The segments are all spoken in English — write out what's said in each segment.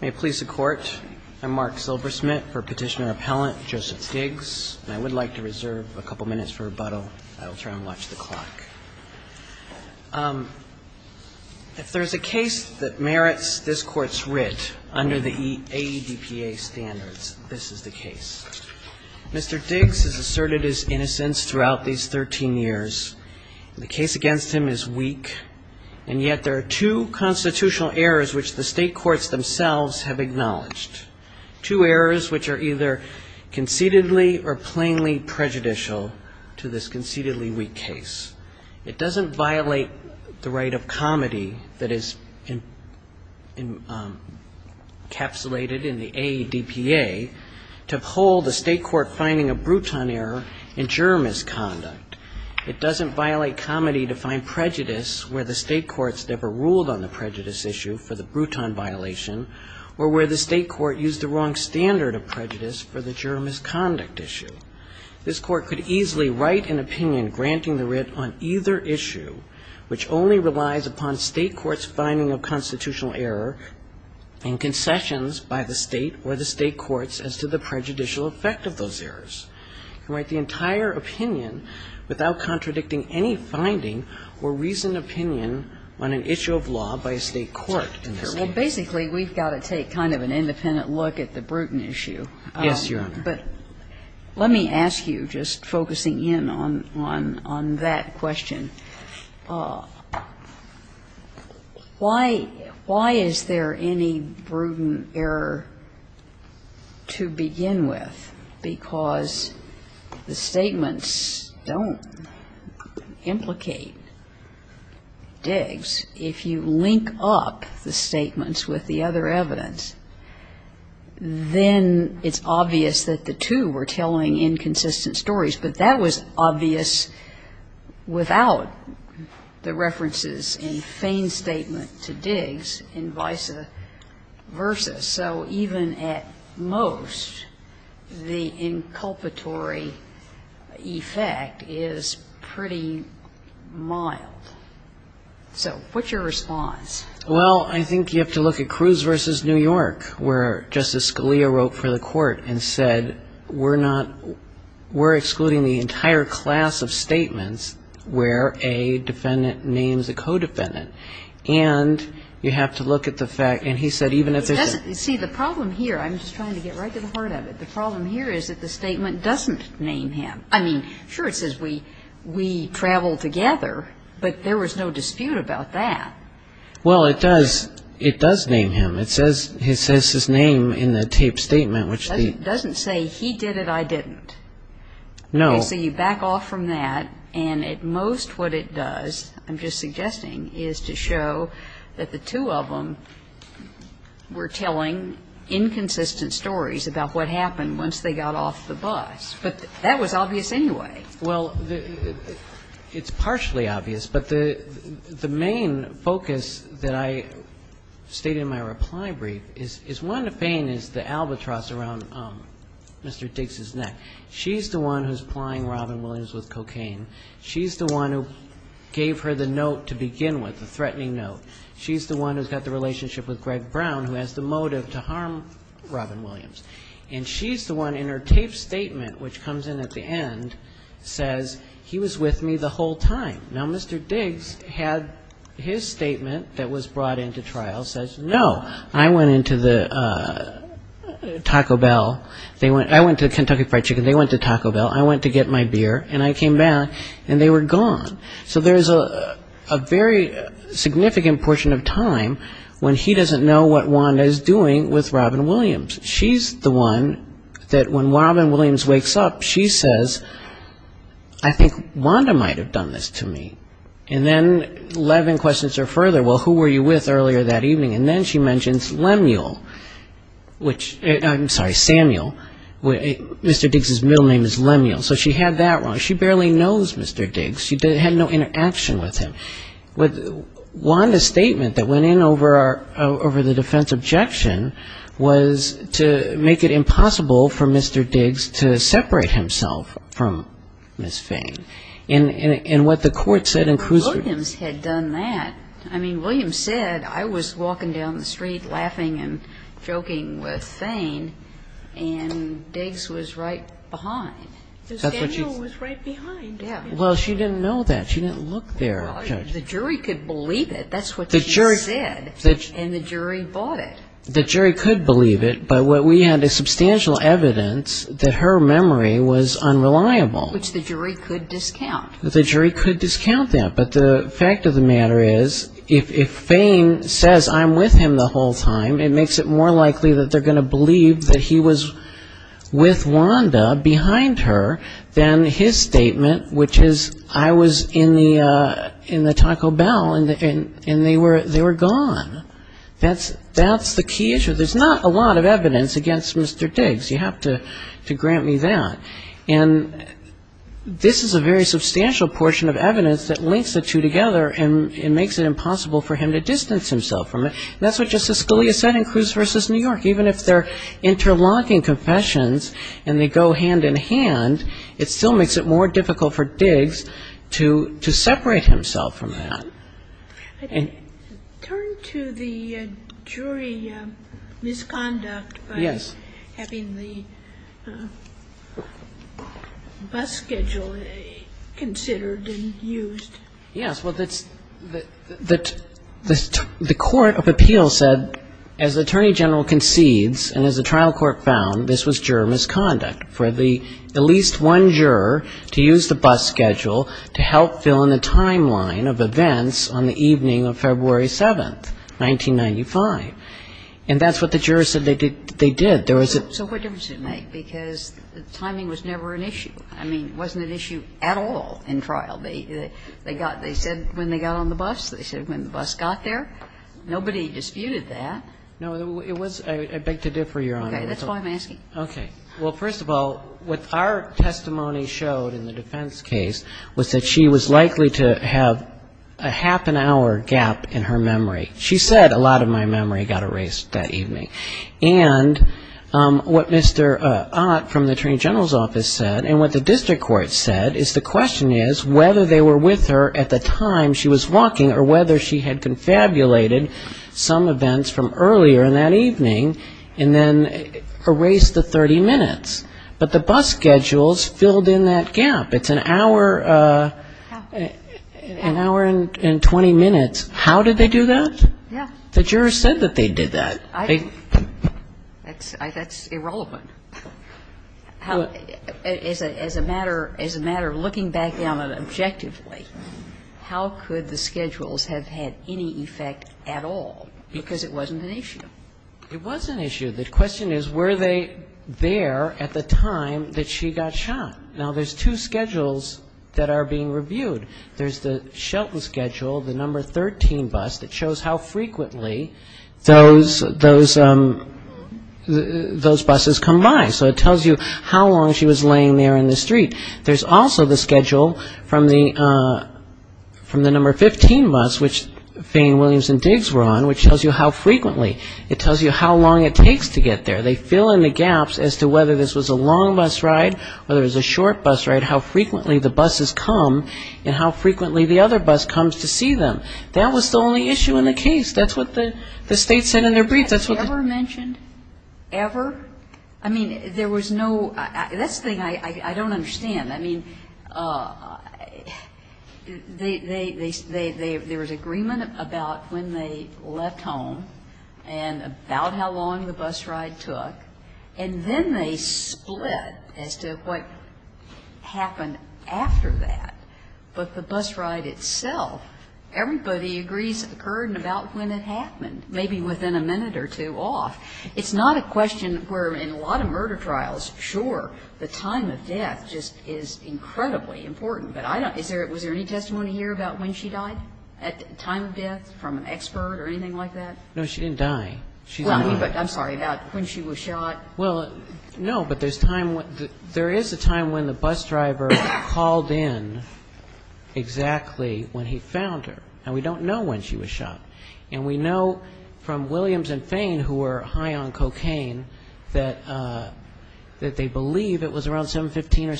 May it please the Court, I'm Mark Silversmith for Petitioner Appellant Joseph Diggs, and I would like to reserve a couple minutes for rebuttal. I'll try and watch the clock. If there's a case that merits this Court's writ under the AEDPA standards, this is the case. Mr. Diggs is asserted his innocence throughout these 13 years. The case against him is weak, and yet there are two constitutional errors which the state courts themselves have acknowledged. Two errors which are either concededly or plainly prejudicial to this concededly weak case. It doesn't violate the right of comedy that is encapsulated in the AEDPA to uphold the state court finding a Bruton error in juror misconduct. It doesn't violate comedy to find prejudice where the state courts never ruled on the prejudice issue for the Bruton violation, or where the state court used the wrong standard of prejudice for the juror misconduct issue. This Court could easily write an opinion granting the writ on either issue, which only relies upon state courts' finding of constitutional error and concessions by the state or the state courts as to the prejudicial effect of those errors, and write the entire opinion without contradicting any finding or reasoned opinion on an issue of law by a state court in this case. Well, basically, we've got to take kind of an independent look at the Bruton issue. Yes, Your Honor. But let me ask you, just focusing in on that question, why is there any Bruton error to begin with? Because the statements don't implicate Diggs. If you link up the statements with the other evidence, then it's obvious that the two were telling inconsistent stories, but that was obvious without the references in Fain's statement to Diggs and vice versa. So even at most, the inculpatory effect is pretty mild. So what's your response? Well, I think you have to look at Cruz v. New York, where Justice Scalia wrote for the court and said, we're excluding the entire class of statements where a defendant names a co-defendant. And you have to look at the fact, and he said, even if there's a... See, the problem here, I'm just trying to get right to the heart of it, the problem here is that the statement doesn't name him. I mean, sure, it says, we traveled together, but there was no dispute about that. Well, it does. It does name him. It says his name in the taped statement, which the... It doesn't say, he did it, I didn't. No. Okay. So you back off from that, and at most, what it does, I'm just suggesting, is to show that the two of them were telling inconsistent stories about what happened once they got off the bus. But that was obvious anyway. Well, it's partially obvious, but the main focus that I state in my reply brief is, is Wanda Fain is the albatross around Mr. Diggs' neck. She's the one who's supplying Robin Williams with cocaine. She's the one who gave her the note to begin with, the threatening note. She's the one who's got the relationship with Greg Brown, who has the motive to harm Robin Williams. And she's the one in her taped statement, which comes in at the end, says, he was with me the whole time. Now, Mr. Diggs had his statement that was brought into trial, says, no, I went into the Taco Bell. I went to Kentucky Fried Chicken. They went to Taco Bell. I went to get my beer, and I came back, and they were gone. So there's a very significant portion of time when he doesn't know what Wanda is doing with Robin Williams. She's the one that, when Robin Williams wakes up, she says, I think Wanda might have done this to me. And then Levin questions her further, well, who were you with earlier that evening? And then she mentions Lemuel, which, I'm sorry, Samuel. Mr. Diggs' middle name is Lemuel. So she had that wrong. She barely knows Mr. Diggs. She had no interaction with him. Wanda's statement that went in over the defense objection was to make it impossible for Mr. Diggs to separate himself from Ms. Fane. And what the court said in Cruzford – Williams had done that. I mean, Williams said, I was walking down the street laughing and then I saw that Mr. Diggs was right behind. So Samuel was right behind. Well, she didn't know that. She didn't look there, Judge. The jury could believe it. That's what she said. And the jury bought it. The jury could believe it, but we had substantial evidence that her memory was unreliable. Which the jury could discount. The jury could discount that. But the fact of the matter is, if Fane says, I'm with him the whole time, it makes it more likely that they're going to believe that he was with Wanda behind her than his statement, which is, I was in the Taco Bell and they were gone. That's the key issue. There's not a lot of evidence against Mr. Diggs. You have to grant me that. And this is a very substantial portion of evidence that links the two together and makes it impossible for him to distance himself from her. And that's what Justice Scalia said in Cruz v. New York. Even if they're interlocking confessions and they go hand in hand, it still makes it more difficult for Diggs to separate himself from that. I'd like to turn to the jury misconduct by having the bus schedule considered and used. Yes. Well, the Court of Appeals said, as the Attorney General concedes and as the trial court found, this was juror misconduct, for the at least one juror to use the bus schedule to help fill in the timeline of events on the evening of February 7th, 1995. And that's what the jurors said they did. There was a So what difference does it make? Because the timing was never an issue. I mean, it wasn't an issue at all in trial. They got They said when they got on the bus. They said when the bus got there. Nobody disputed that. No, it was I beg to differ, Your Honor. Okay. That's why I'm asking. Okay. Well, first of all, what our testimony showed in the defense case was that she was likely to have a half an hour gap in her memory. She said a lot of my memory got erased that evening. And what Mr. Ott from the Attorney General's office said and what the district court said is the question is whether they were with her in the time she was walking or whether she had confabulated some events from earlier in that evening and then erased the 30 minutes. But the bus schedules filled in that gap. It's an hour and 20 minutes. How did they do that? Yeah. The jurors said that they did that. That's irrelevant. As a matter of looking back on it objectively, I think the question is how could the schedules have had any effect at all? Because it wasn't an issue. It was an issue. The question is were they there at the time that she got shot? Now, there's two schedules that are being reviewed. There's the Shelton schedule, the number 13 bus that shows how frequently those buses come by. So it tells you how long she was laying there in the street. There's also the schedule from the number 15 bus which Fane, Williams and Diggs were on which tells you how frequently. It tells you how long it takes to get there. They fill in the gaps as to whether this was a long bus ride, whether it was a short bus ride, how frequently the buses come and how frequently the other bus comes to see them. That was the only issue in the case. That's what the state said in their brief. I mean, was that ever mentioned? Ever? I mean, there was no that's the thing I don't understand. I mean, there was agreement about when they left home and about how long the bus ride took. And then they split as to what happened after that. But the bus ride itself, everybody agrees occurred about when it happened, maybe within a minute or two off. It's not a question where in a lot of murder trials, sure, the time of death just is incredibly important. But was there any testimony here about when she died at the time of death from an expert or anything like that? No, she didn't die. I'm sorry, about when she was shot? Well, no, but there is a time when the bus driver called in exactly when he found her. And we don't know when she was shot. And we know from Williams and Fane, who were high on cocaine, that they believe it was around 7.15 or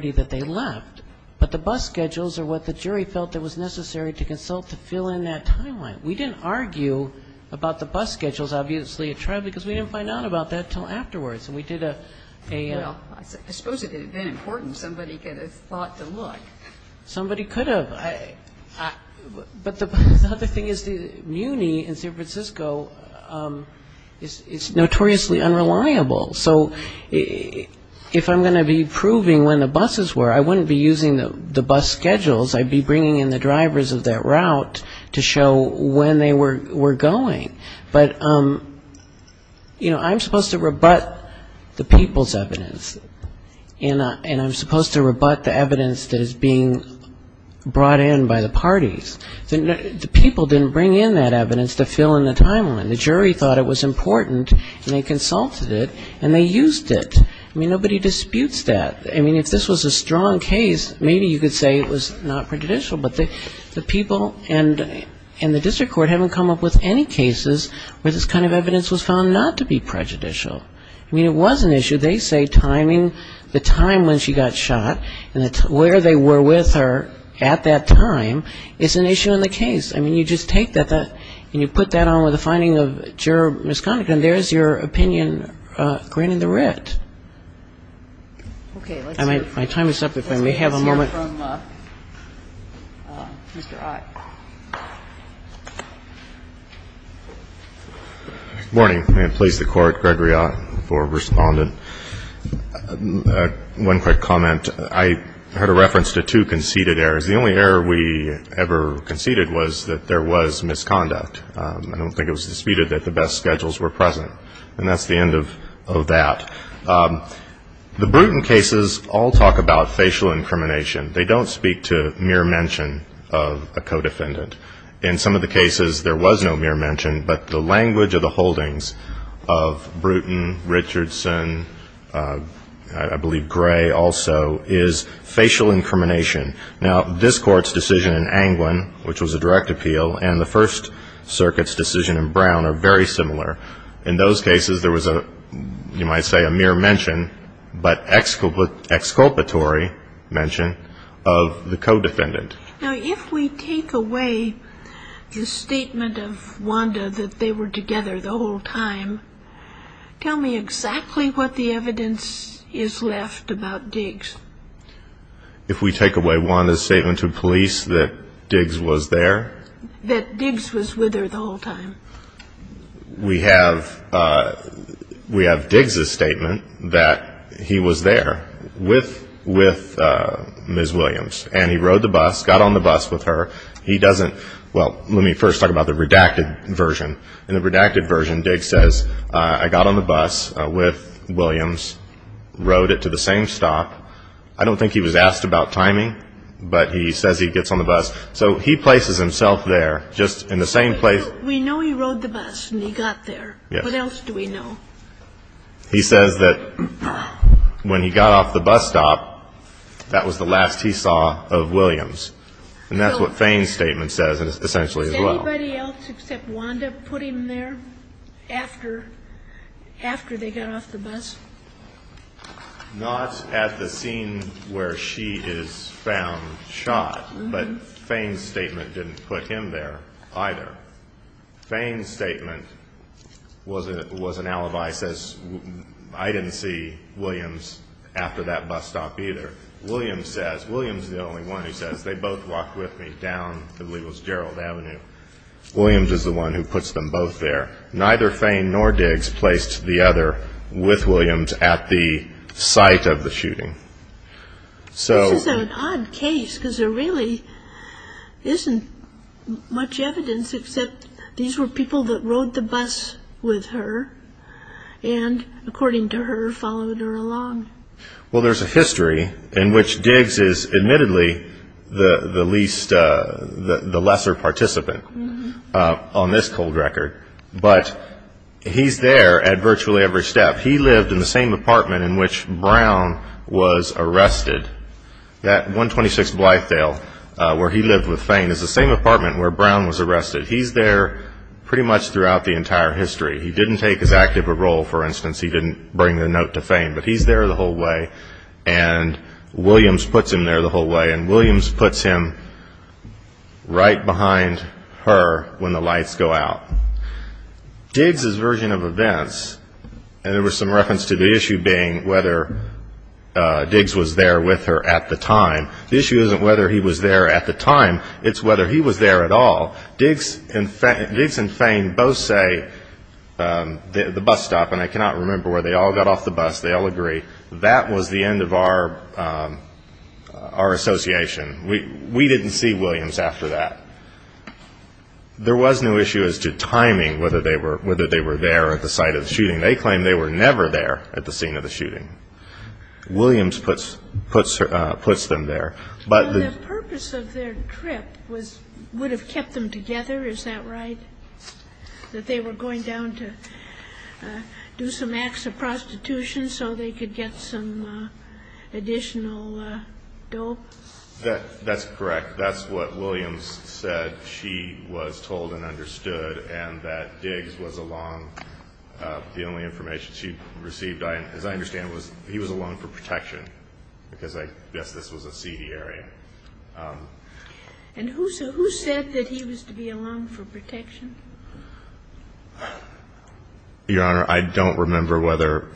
7.30 that they left. But the bus schedules are what the jury felt it was necessary to consult to fill in that timeline. We didn't argue about the bus schedules, obviously, at trial, because we didn't find out about that until afterwards. And we did a Well, I suppose if it had been important, somebody could have thought to look. Somebody could have. But the other thing is that MUNI in San Francisco is notoriously unreliable. So if I'm going to be proving when the buses were, I wouldn't be using the bus schedules. I'd be bringing in the drivers of that route to show when they were going. But, you know, I'm supposed to rebut the people's evidence. And I'm supposed to rebut the evidence that is being brought in by the parties. The people didn't bring in that evidence to fill in the timeline. The jury thought it was important. And they consulted it. And they used it. I mean, nobody disputes that. I mean, if this was a strong case, maybe you could say it was not prejudicial. But the people and the district court haven't come up with any cases where this kind of evidence was found not to be prejudicial. I mean, it was an issue. They say timing, the time when she got shot, and where they were with her at that time is an issue in the case. I mean, you just take that and you put that on with the finding of Juror Misconduct and there's your opinion granting the writ. And my time is up, if I may have a moment. Let's hear from Mr. Ott. Good morning. And please, the Court, Gregory Ott for Respondent. One quick comment. I heard a reference to two conceded errors. The only error we ever conceded was that there was misconduct. I don't think it was disputed that the best schedules were present. And that's the end of that. The Bruton cases all talk about facial incrimination. They don't speak to mere mention of a co-defendant. In some of the cases, there was no mere mention, but the language of the holdings of Bruton, Richardson, I believe Gray, also spoke to facial incrimination. Now, this Court's decision in Anglin, which was a direct appeal, and the First Circuit's decision in Brown are very similar. In those cases, there was, you might say, a mere mention, but exculpatory mention of the co-defendant. Now, if we take away the statement of Wanda that they were together the whole time, tell me exactly what the evidence is left about Diggs. If we take away Wanda's statement to police that Diggs was there? That Diggs was with her the whole time. We have Diggs' statement that he was there with Ms. Williams. And he rode the bus, got on the bus with her. He doesn't, well, let me first talk about the redacted version. In the redacted version, Diggs says, I got on the bus with Williams, rode it to the same stop. I don't think he was asked about timing, but he says he gets on the bus. So he places himself there, just in the same place. We know he rode the bus and he got there. What else do we know? He says that when he got off the bus stop, that was the last he saw of Williams. And that's what Fain's statement says, essentially, as well. Did anybody else except Wanda put him there after they got off the bus? Not at the scene where she is found shot, but Fain's statement didn't put him there either. Fain's statement was an alibi, says, I didn't see Williams after that bus stop either. Williams says, Williams is the only one who says, they both walked with me down I believe it was Gerald Avenue. Williams is the one who puts them both there. Neither Fain nor Diggs placed the other with Williams at the site of the shooting. This is an odd case, because there really isn't much evidence, except these were people that rode the bus with her, and according to her, followed her along. Well, there's a history in which Diggs is admittedly the lesser participant on this cold record. But he's there at virtually every step. He lived in the same apartment in which Brown was arrested. That 126 Blythdale, where he lived with Fain, is the same apartment where Brown was arrested. He's there pretty much throughout the entire history. He didn't take his active role, for instance, he didn't bring the note to Fain, but he's there the whole way, and Williams puts him there the whole way, and Williams puts him right behind her when the lights go out. Diggs' version of events, and there was some reference to the issue being whether Diggs was there with her at the time. The issue isn't whether he was there at the time, it's whether he was there at all. Diggs and Fain both say the bus stop, and I cannot remember where they all got off the bus, they all agree, that was the end of our association. We didn't see Williams after that. There was no issue as to timing, whether they were there at the site of the shooting. They claim they were never there at the scene of the shooting. Williams puts them there. The purpose of their trip would have kept them together, is that right? That they were going down to do some acts of prostitution so they could get some additional dope? That's correct. That's what Williams said she was told and understood, and that Diggs was along. The only information she received, as I understand, was that he was alone for protection, because I guess this was a seedy area. And who said that he was to be alone for protection? Your Honor, I don't remember whether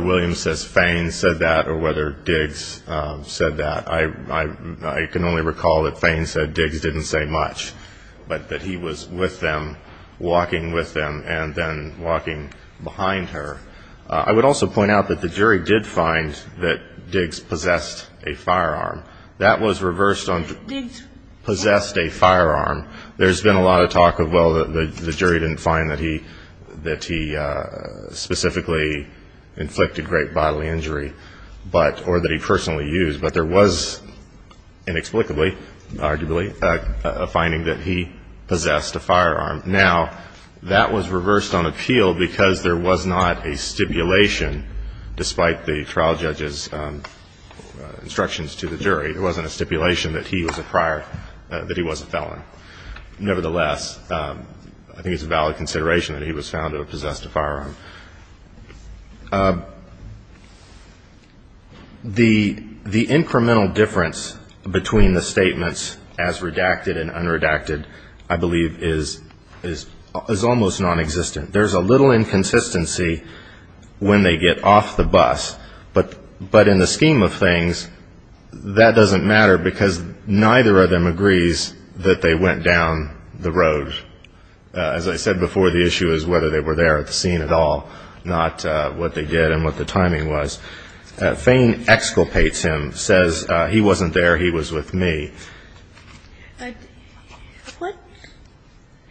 Williams says Fain said that, or whether Diggs said that. I can only recall that Fain said Diggs didn't say much, but that he was with them, walking with them, and then walking behind her. I would also point out that the jury did find that Diggs possessed a firearm. That was reversed on Diggs possessed a firearm. There's been a lot of talk of, well, the jury didn't find that he specifically inflicted great bodily injury, or that he personally used, but there was inexplicably, arguably, a finding that he possessed a firearm. Now, that was reversed on appeal, because there was not a stipulation, despite the trial judge's instructions to the jury. There wasn't a stipulation that he was a prior, that he was a felon. Nevertheless, I think it's a valid consideration that he was found to have possessed a firearm. The incremental difference between the statements as redacted and unredacted, I believe, is almost non-existent. There's a little inconsistency when they get off the bus, but in the scheme of things, that doesn't matter because neither of them agrees that they went down the road. As I said before, the issue is whether they were there at the scene at all, not what they did and what the timing was. Fain exculpates him, says he wasn't there, he was with me.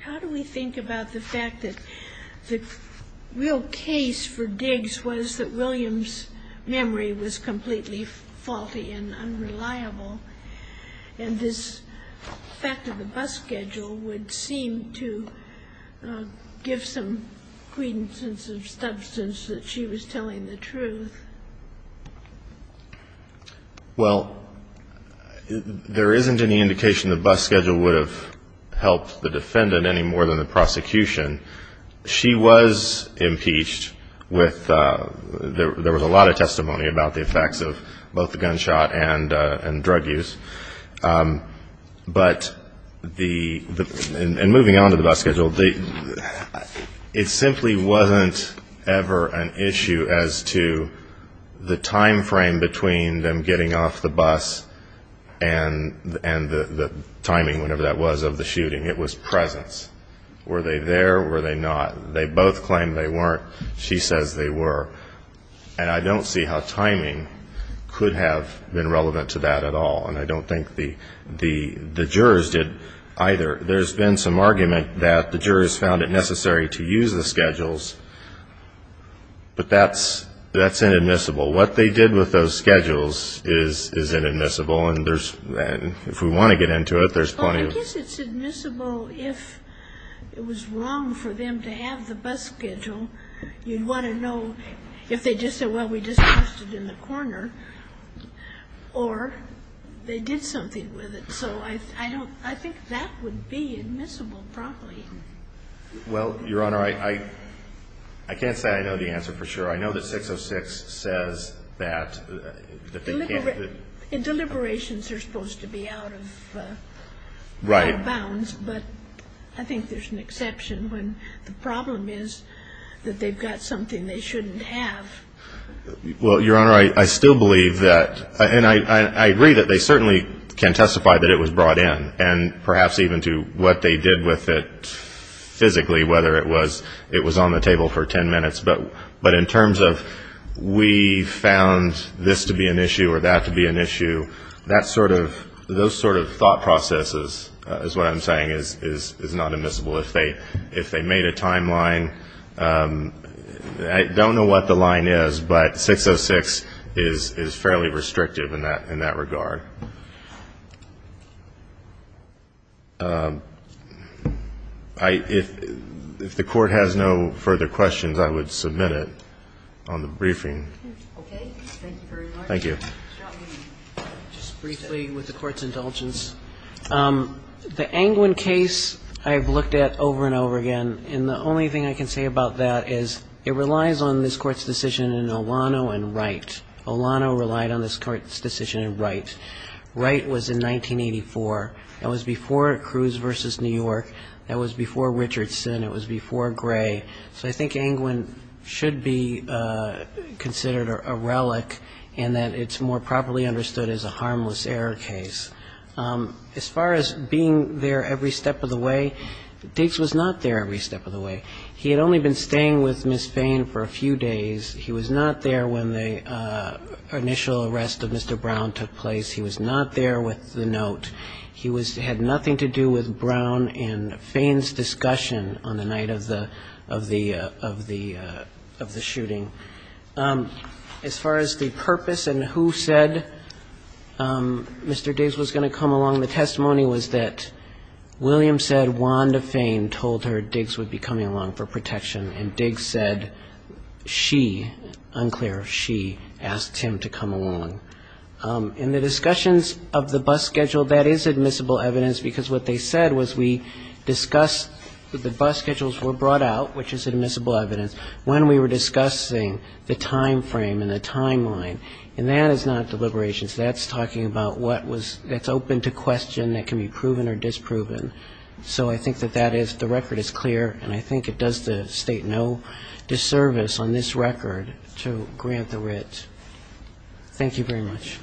How do we think about the fact that the real case for Diggs was that William's memory was completely faulty and unreliable, and this fact of the bus schedule would seem to give some credence and some substance that she was telling the truth? Well, there isn't any indication the bus schedule would have helped the defendant any more than the prosecution. She was impeached. There was a lot of testimony about the effects of both the gunshot and drug use. And moving on to the bus schedule, it simply wasn't ever an issue as to the time frame between them getting off the bus and the timing, whatever that was, of the shooting. It was presence. Were they there, were they not? They both claimed they weren't. She says they were. And I don't see how timing could have been relevant to that at all. And I don't think the jurors did either. There's been some argument that the jurors found it necessary to use the schedules, but that's inadmissible. What they did with those schedules is inadmissible, and if we want to get into it, there's plenty of... Well, I guess it's admissible if it was wrong for them to have the bus schedule. You'd want to know if they just said, well, we just passed it in the corner, or they did something with it. So I think that would be admissible, probably. Well, Your Honor, I can't say I know the answer for sure. I know that 606 says that... Deliberations are supposed to be out of bounds, but I think there's an exception when the problem is that they've got something they shouldn't have. Well, Your Honor, I still believe that, and I agree that they certainly can testify that it was brought in, and perhaps even to what they did with it physically, whether it was on the table for 10 minutes. But in terms of, we found this to be an issue or that to be an issue, those sort of thought processes, is what I'm saying, is not admissible. If they made a timeline... I don't know what the line is, but 606 is fairly restrictive in that regard. If the Court has no further questions, I would submit it on the briefing. Okay. Thank you very much. Thank you. Just briefly, with the Court's indulgence, the Angwin case I've looked at over and over again, and the only thing I can say about that is it relies on this Court's decision in Olano and Wright. Olano relied on this Court's decision in Wright. Wright was in 1984. That was before Cruz v. New York. That was before Richardson. It was before Gray. So I think Angwin should be considered a relic in that it's more properly understood as a harmless error case. As far as being there every step of the way, Diggs was not there every step of the way. He had only been staying with Ms. Fain for a few days. He was not there when the initial arrest of Mr. Brown took place. He was not there with the note. He had nothing to do with Brown and Fain's discussion on the night of the shooting. As far as the purpose and who said Mr. Diggs was going to come along, the testimony was that William said Wanda Fain told her Diggs would be coming along for protection, and Diggs said she, unclear if she, asked him to come along. In the discussions of the bus schedule, that is admissible evidence because what they said was we discussed that the bus schedules were brought out, which is admissible evidence, when we were discussing the time frame and the timeline. And that is not deliberations. That's talking about what's open to question that can be proven or disproven. So I think that the record is clear and I think it does the State no disservice on this record to grant the writ. Thank you very much.